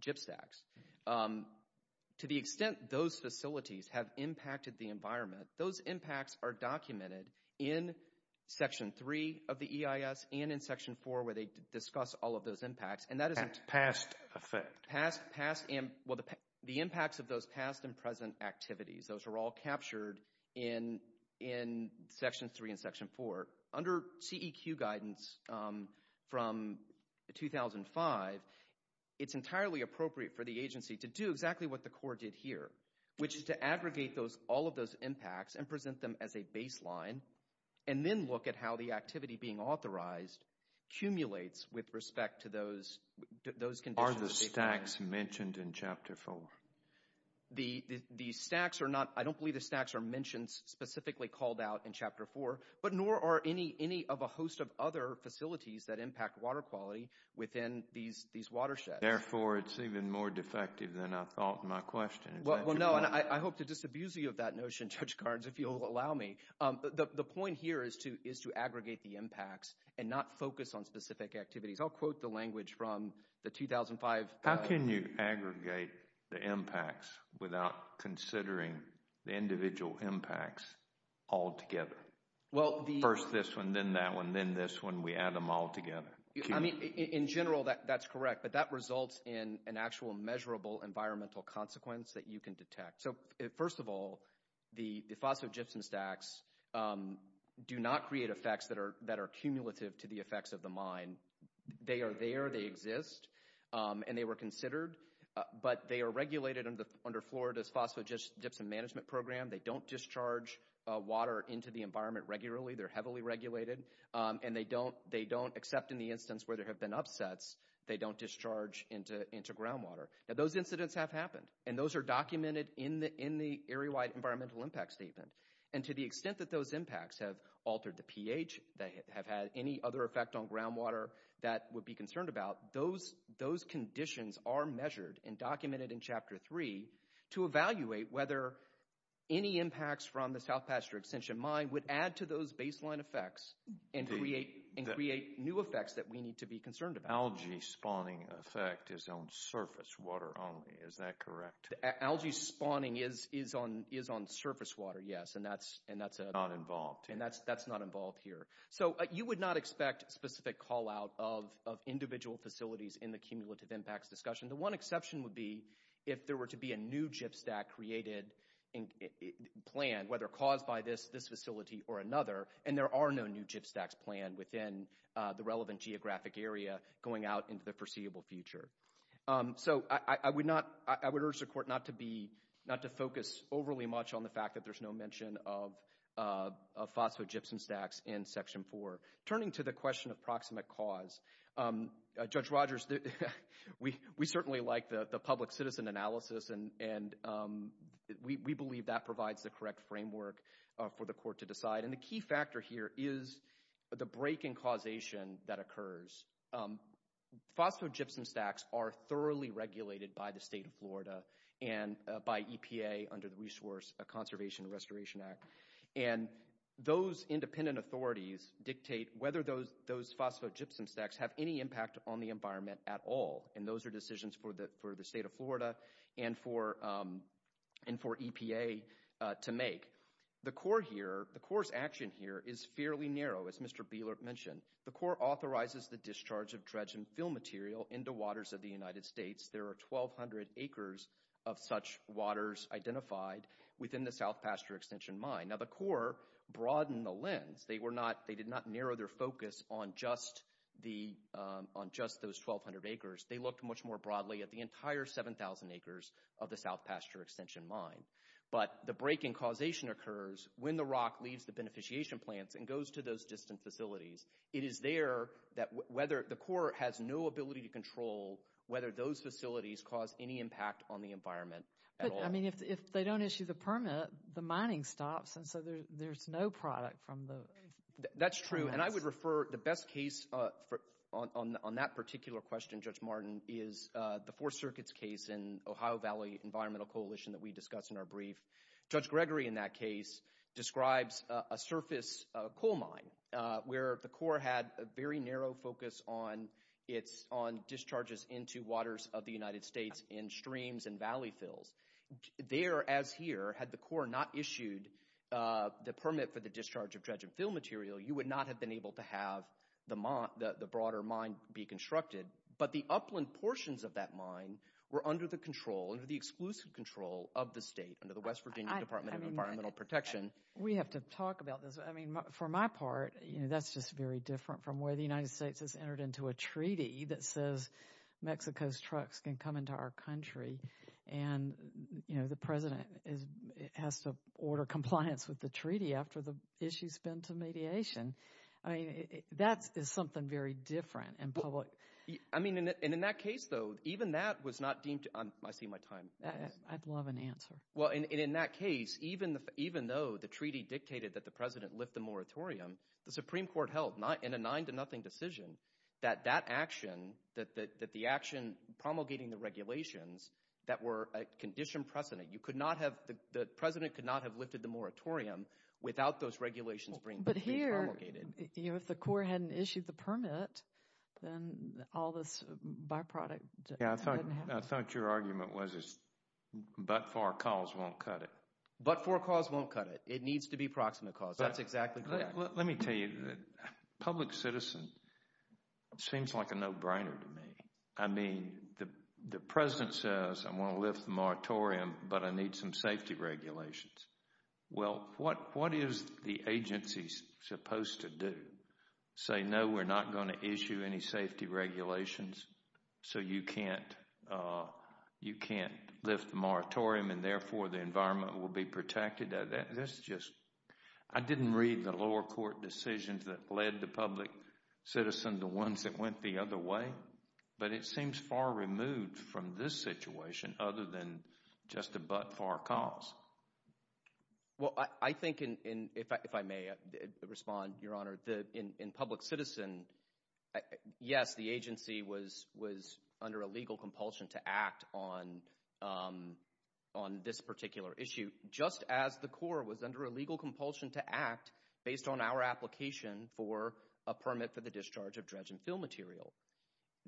chip stacks. To the extent those facilities have impacted the environment, those impacts are documented in Section 3 of the EIS and in Section 4 where they discuss all of those impacts, and that the impacts of those past and present activities, those are all captured in Section 3 and Section 4. Under CEQ guidance from 2005, it's entirely appropriate for the agency to do exactly what the Corps did here, which is to aggregate all of those impacts and present them as a baseline, and then look at how the activity being authorized accumulates with respect to those conditions. What are the stacks mentioned in Chapter 4? The stacks are not, I don't believe the stacks are mentioned specifically called out in Chapter 4, but nor are any of a host of other facilities that impact water quality within these watersheds. Therefore, it's even more defective than I thought in my question. Well, no, and I hope to disabuse you of that notion, Judge Garns, if you'll allow me. The point here is to aggregate the impacts and not focus on specific activities. I'll quote the language from the 2005… How can you aggregate the impacts without considering the individual impacts all together? First this one, then that one, then this one, we add them all together. In general, that's correct, but that results in an actual measurable environmental consequence that you can detect. First of all, the phosphogypsum stacks do not create effects that are cumulative to the effects of the mine. They are there, they exist, and they were considered, but they are regulated under Florida's Phosphogypsum Management Program. They don't discharge water into the environment regularly. They're heavily regulated, and they don't, except in the instance where there have been upsets, they don't discharge into groundwater. Now those incidents have happened, and those are documented in the Area-Wide Environmental Impact Statement. And to the extent that those impacts have altered the pH, that have had any other effect on groundwater that would be concerned about, those conditions are measured and documented in Chapter 3 to evaluate whether any impacts from the South Pasture Extension Mine would add to those baseline effects and create new effects that we need to be concerned about. The algae spawning effect is on surface water only, is that correct? Algae spawning is on surface water, yes, and that's not involved here. So you would not expect specific call-out of individual facilities in the cumulative impacts discussion. The one exception would be if there were to be a new gypstack created, planned, whether caused by this facility or another, and there are no new gypstacks planned within the relevant geographic area going out into the foreseeable future. So I would urge the Court not to focus overly much on the fact that there's no mention of phosphogypsum stacks in Section 4. Turning to the question of proximate cause, Judge Rogers, we certainly like the public-citizen analysis, and we believe that provides the correct framework for the Court to decide. And the key factor here is the break-in causation that occurs. Phosphogypsum stacks are thoroughly regulated by the State of Florida and by EPA under the Resource Conservation and Restoration Act. And those independent authorities dictate whether those phosphogypsum stacks have any impact on the environment at all, and those are decisions for the State of Florida and for EPA to make. The Court's action here is fairly narrow, as Mr. Bieler mentioned. The Court authorizes the discharge of dredge and fill material into waters of the United States. There are 1,200 acres of such waters identified within the South Pasture Extension Mine. Now the Court broadened the lens. They did not narrow their focus on just those 1,200 acres. They looked much more broadly at the entire 7,000 acres of the South Pasture Extension Mine. But the break-in causation occurs when the rock leaves the beneficiation plants and goes to those distant facilities. It is there that whether the Court has no ability to control whether those facilities cause any impact on the environment at all. But, I mean, if they don't issue the permit, the mining stops, and so there's no product from the— That's true, and I would refer—the best case on that particular question, Judge Martin, is the Fourth Circuit's case in Ohio Valley Environmental Coalition that we discussed in our brief. Judge Gregory, in that case, describes a surface coal mine where the Court had a very narrow focus on discharges into waters of the United States in streams and valley fills. There, as here, had the Court not issued the permit for the discharge of dredge and fill material, you would not have been able to have the broader mine be constructed. But the upland portions of that mine were under the control, under the exclusive control of the state, under the West Virginia Department of Environmental Protection. We have to talk about this. I mean, for my part, you know, that's just very different from where the United States has entered into a treaty that says Mexico's trucks can come into our country, and, you know, the President has to order compliance with the treaty after the issue's been to mediation. I mean, that is something very different in public. I mean, and in that case, though, even that was not deemed to—I see my time. I'd love an answer. Well, and in that case, even though the treaty dictated that the President lift the moratorium, the Supreme Court held in a nine-to-nothing decision that that action, that the action promulgating the regulations, that were a conditioned precedent. You could not have—the President could not have lifted the moratorium without those regulations being promulgated. But here, you know, if the Corps hadn't issued the permit, then all this byproduct— Yeah, I thought your argument was, but for a cause, won't cut it. But for a cause, won't cut it. It needs to be proximate cause. That's exactly correct. Let me tell you, public citizen seems like a no-brainer to me. I mean, the President says, I'm going to lift the moratorium, but I need some safety regulations. Well, what is the agency supposed to do? Say, no, we're not going to issue any safety regulations, so you can't lift the moratorium, and therefore the environment will be protected? That's just—I didn't read the lower court decisions that led the public citizen to ones that went the other way, but it seems far removed from this situation other than just a but-for cause. Well, I think, if I may respond, Your Honor, in public citizen, yes, the agency was under a legal compulsion to act on this particular issue, just as the Corps was under a legal compulsion to act based on our application for a permit for the discharge of dredge and fill material.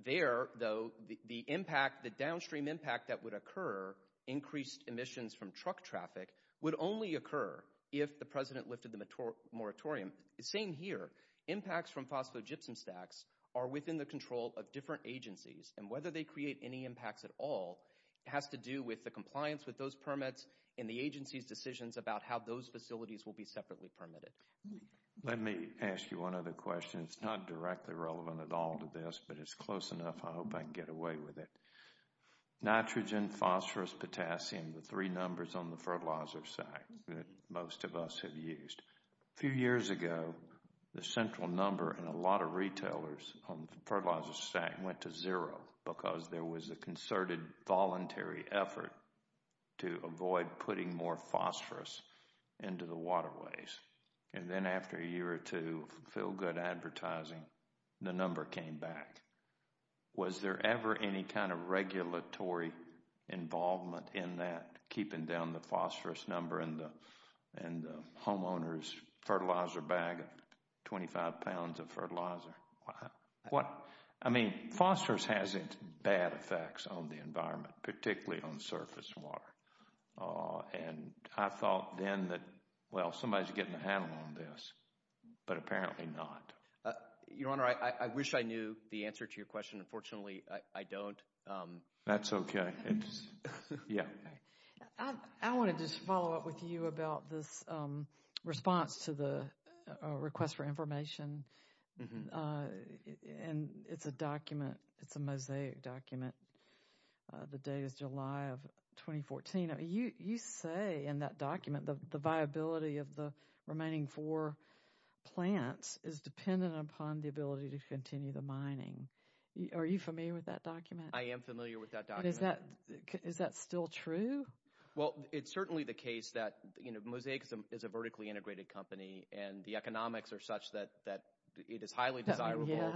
There, though, the impact, the downstream impact that would occur, increased emissions from truck traffic, would only occur if the President lifted the moratorium. Same here. Impacts from phosphogypsum stacks are within the control of different agencies, and whether they create any impacts at all has to do with the compliance with those permits and the agency's decisions about how those facilities will be separately permitted. Let me ask you one other question. It's not directly relevant at all to this, but it's close enough. I hope I can get away with it. Nitrogen, phosphorus, potassium, the three numbers on the fertilizer stack that most of us have used. A few years ago, the central number in a lot of retailers on the fertilizer stack went to zero because there was a concerted voluntary effort to avoid putting more phosphorus into the waterways. And then after a year or two of feel-good advertising, the number came back. Was there ever any kind of regulatory involvement in that, keeping down the phosphorus number in the homeowner's fertilizer bag, 25 pounds of fertilizer? I mean, phosphorus has bad effects on the environment, particularly on surface water. And I thought then that, well, somebody's getting the handle on this, but apparently not. Your Honor, I wish I knew the answer to your question. Unfortunately, I don't. That's okay. Yeah. I want to just follow up with you about this response to the request for information. And it's a document. It's a mosaic document. The date is July of 2014. You say in that document the viability of the remaining four plants is dependent upon the ability to continue the mining. Are you familiar with that document? I am familiar with that document. Is that still true? Well, it's certainly the case that Mosaic is a vertically integrated company, and the economics are such that it is highly desirable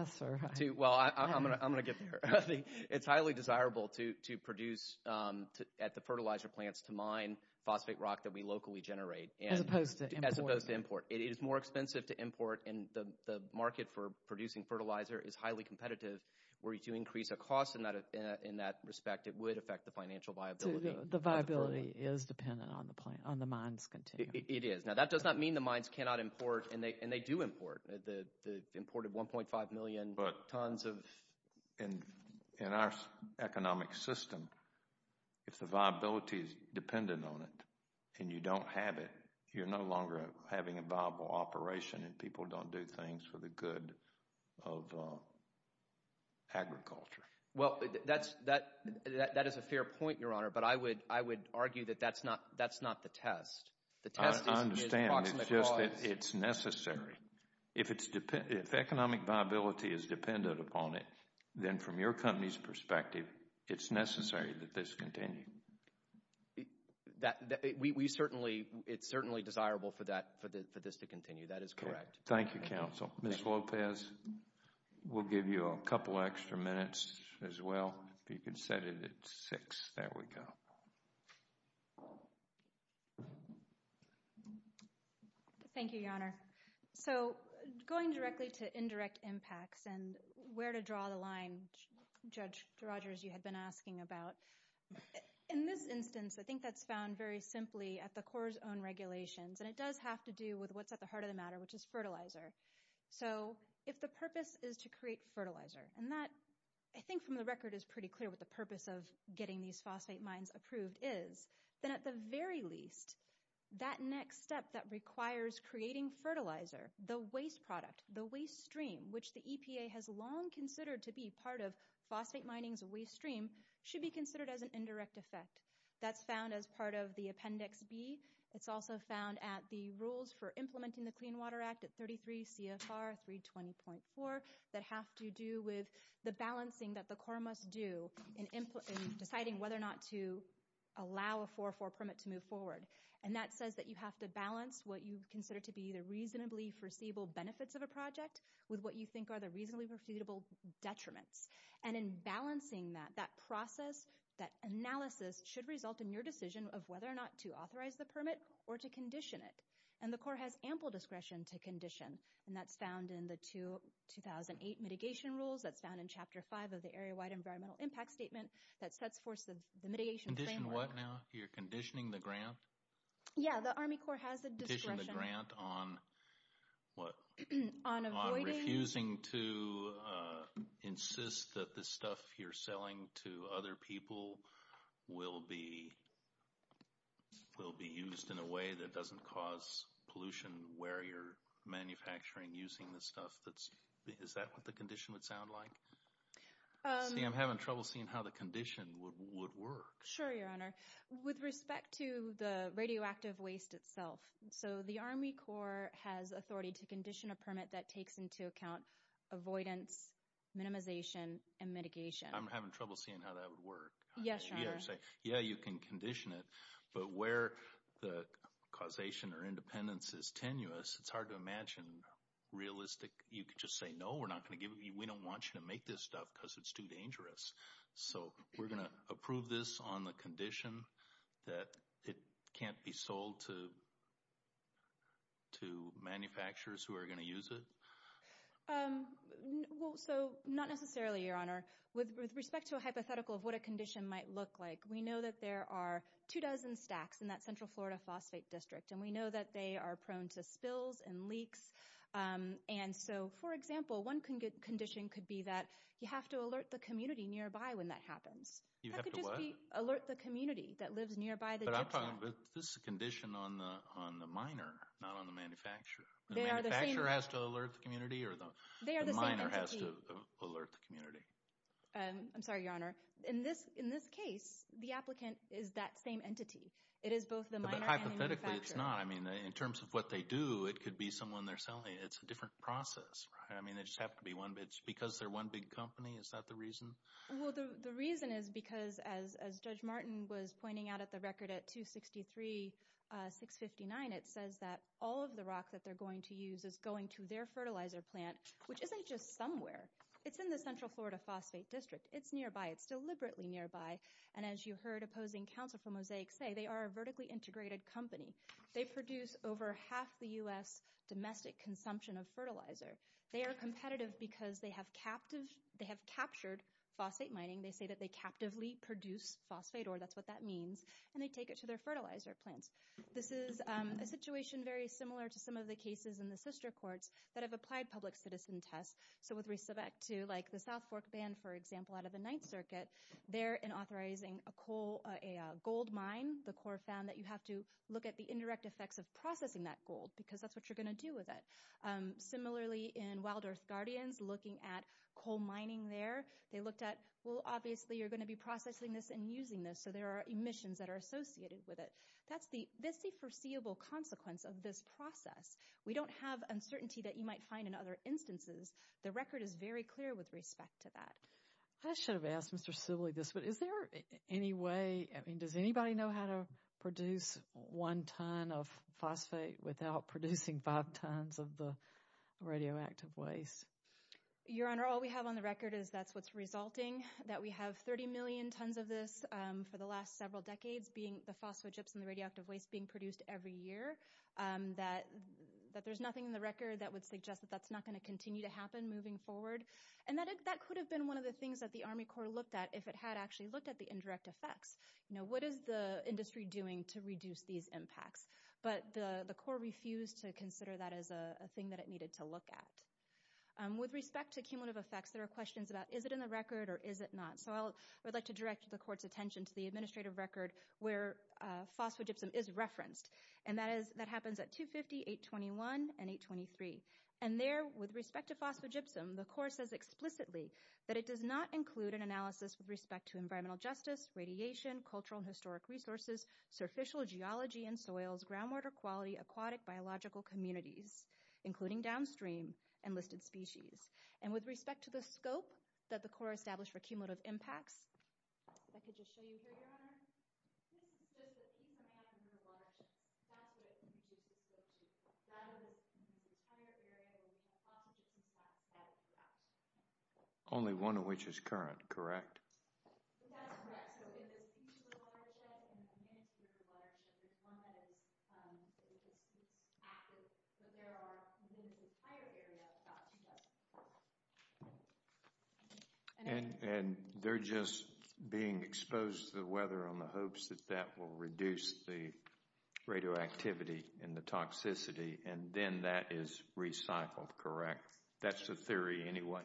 to – well, I'm going to get there. It's highly desirable to produce at the fertilizer plants to mine phosphate rock that we locally generate. As opposed to import. As opposed to import. It is more expensive to import, and the market for producing fertilizer is highly competitive. Were you to increase a cost in that respect, it would affect the financial viability. The viability is dependent on the mines continuing. It is. Now, that does not mean the mines cannot import, and they do import. They've imported 1.5 million tons of – In our economic system, if the viability is dependent on it and you don't have it, you're no longer having a viable operation, and people don't do things for the good of agriculture. Well, that is a fair point, Your Honor, but I would argue that that's not the test. I understand. It's just that it's necessary. If economic viability is dependent upon it, then from your company's perspective, it's necessary that this continue. We certainly – it's certainly desirable for this to continue. That is correct. Thank you, counsel. Ms. Lopez, we'll give you a couple extra minutes as well. If you could set it at six. There we go. Thank you, Your Honor. So, going directly to indirect impacts and where to draw the line, Judge Rogers, you had been asking about. In this instance, I think that's found very simply at the Corps' own regulations, and it does have to do with what's at the heart of the matter, which is fertilizer. So, if the purpose is to create fertilizer, and that, I think from the record, is pretty clear what the purpose of getting these phosphate mines approved is, then at the very least, that next step that requires creating fertilizer, the waste product, the waste stream, which the EPA has long considered to be part of phosphate mining's waste stream, should be considered as an indirect effect. That's found as part of the Appendix B. It's also found at the rules for implementing the Clean Water Act at 33 CFR 320.4 that have to do with the balancing that the Corps must do in deciding whether or not to allow a 404 permit to move forward. And that says that you have to balance what you consider to be the reasonably foreseeable benefits of a project with what you think are the reasonably foreseeable detriments. And in balancing that, that process, that analysis, should result in your decision of whether or not to authorize the permit or to condition it. And the Corps has ample discretion to condition, and that's found in the 2008 Mitigation Rules. That's found in Chapter 5 of the Area-Wide Environmental Impact Statement that sets forth the mitigation framework. Condition what now? You're conditioning the grant? Yeah, the Army Corps has the discretion. Conditioning the grant on what? On avoiding? On refusing to insist that the stuff you're selling to other people will be used in a way that doesn't cause pollution where you're manufacturing using the stuff that's— is that what the condition would sound like? See, I'm having trouble seeing how the condition would work. Sure, Your Honor. With respect to the radioactive waste itself, so the Army Corps has authority to condition a permit that takes into account avoidance, minimization, and mitigation. I'm having trouble seeing how that would work. Yes, Your Honor. Yeah, you can condition it, but where the causation or independence is tenuous, it's hard to imagine realistic. You could just say, no, we're not going to give it to you. We don't want you to make this stuff because it's too dangerous. So we're going to approve this on the condition that it can't be sold to manufacturers who are going to use it? Well, so not necessarily, Your Honor. With respect to a hypothetical of what a condition might look like, we know that there are two dozen stacks in that Central Florida Phosphate District, and we know that they are prone to spills and leaks. And so, for example, one condition could be that you have to alert the community nearby when that happens. You have to what? That could just be alert the community that lives nearby the district. But this is a condition on the miner, not on the manufacturer. The manufacturer has to alert the community, or the miner has to alert the community? I'm sorry, Your Honor. In this case, the applicant is that same entity. It is both the miner and the manufacturer. But hypothetically, it's not. I mean, in terms of what they do, it could be someone they're selling. It's a different process, right? I mean, they just have to be one. If it's because they're one big company, is that the reason? Well, the reason is because, as Judge Martin was pointing out at the record at 263-659, it says that all of the rock that they're going to use is going to their fertilizer plant, which isn't just somewhere. It's in the Central Florida Phosphate District. It's nearby. It's deliberately nearby. And as you heard opposing counsel from Mosaic say, they are a vertically integrated company. They produce over half the U.S. domestic consumption of fertilizer. They are competitive because they have captured phosphate mining. They say that they captively produce phosphate, or that's what that means, and they take it to their fertilizer plants. This is a situation very similar to some of the cases in the sister courts that have applied public citizen tests. So with respect to, like, the South Fork Ban, for example, out of the Ninth Circuit, there, in authorizing a gold mine, the court found that you have to look at the indirect effects of processing that gold because that's what you're going to do with it. Similarly, in Wild Earth Guardians, looking at coal mining there, they looked at, well, obviously you're going to be processing this and using this, so there are emissions that are associated with it. That's the foreseeable consequence of this process. We don't have uncertainty that you might find in other instances. The record is very clear with respect to that. I should have asked Mr. Sibley this, but is there any way, I mean, does anybody know how to produce one ton of phosphate without producing five tons of the radioactive waste? Your Honor, all we have on the record is that's what's resulting, that we have 30 million tons of this for the last several decades, being the phosphate chips and the radioactive waste being produced every year, that there's nothing in the record that would suggest that that's not going to continue to happen moving forward. And that could have been one of the things that the Army Corps looked at if it had actually looked at the indirect effects. You know, what is the industry doing to reduce these impacts? But the Corps refused to consider that as a thing that it needed to look at. With respect to cumulative effects, there are questions about, is it in the record or is it not? So I would like to direct the Court's attention to the administrative record where phosphogypsum is referenced, and that happens at 250, 821, and 823. And there, with respect to phosphogypsum, the Corps says explicitly that it does not include an analysis with respect to environmental justice, radiation, cultural and historic resources, surficial geology and soils, groundwater quality, aquatic biological communities, including downstream and listed species. And with respect to the scope that the Corps established for cumulative impacts, if I could just show you here, Your Honor. This is just a piece of land in the watershed. That's what it features with respect to. That is the entire area that we have phosphogypsum at throughout. Only one of which is current, correct? That's correct. So it is a piece of the watershed and a miniscule of the watershed. There's one that is active, but there are, in this entire area, about 2,000. And they're just being exposed to the weather in the hopes that that will reduce the radioactivity and the toxicity, and then that is recycled, correct? That's the theory anyway.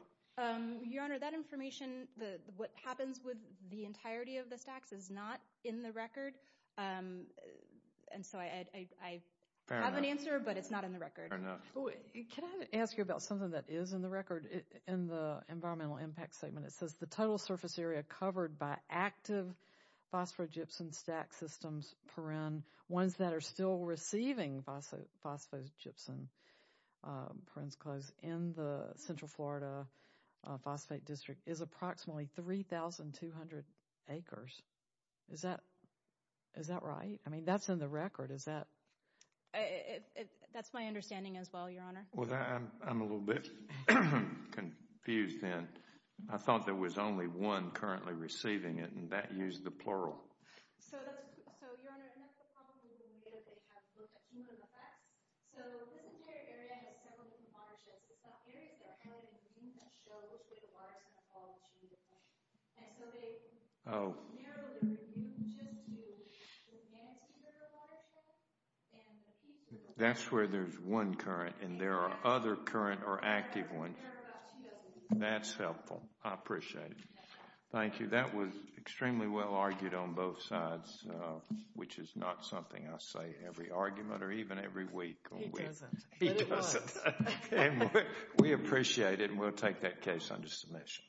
Your Honor, that information, what happens with the entirety of the stacks, is not in the record. And so I have an answer, but it's not in the record. Can I ask you about something that is in the record in the environmental impact statement? It says the total surface area covered by active phosphogypsum stack systems, ones that are still receiving phosphogypsum in the Central Florida Phosphate District, is approximately 3,200 acres. Is that right? I mean, that's in the record. That's my understanding as well, Your Honor. Well, I'm a little bit confused then. I thought there was only one currently receiving it, and that used the plural. So, Your Honor, that's the problem with the way that they have looked at chemical effects. So this entire area has several different watersheds. It's not areas that are highly immune that show which way the water is going to fall and which way it's going to go. Oh. That's where there's one current, and there are other current or active ones. That's helpful. I appreciate it. Thank you. That was extremely well argued on both sides, which is not something I say every argument or even every week. He doesn't. He doesn't. We appreciate it, and we'll take that case under submission. Thank you. All rise.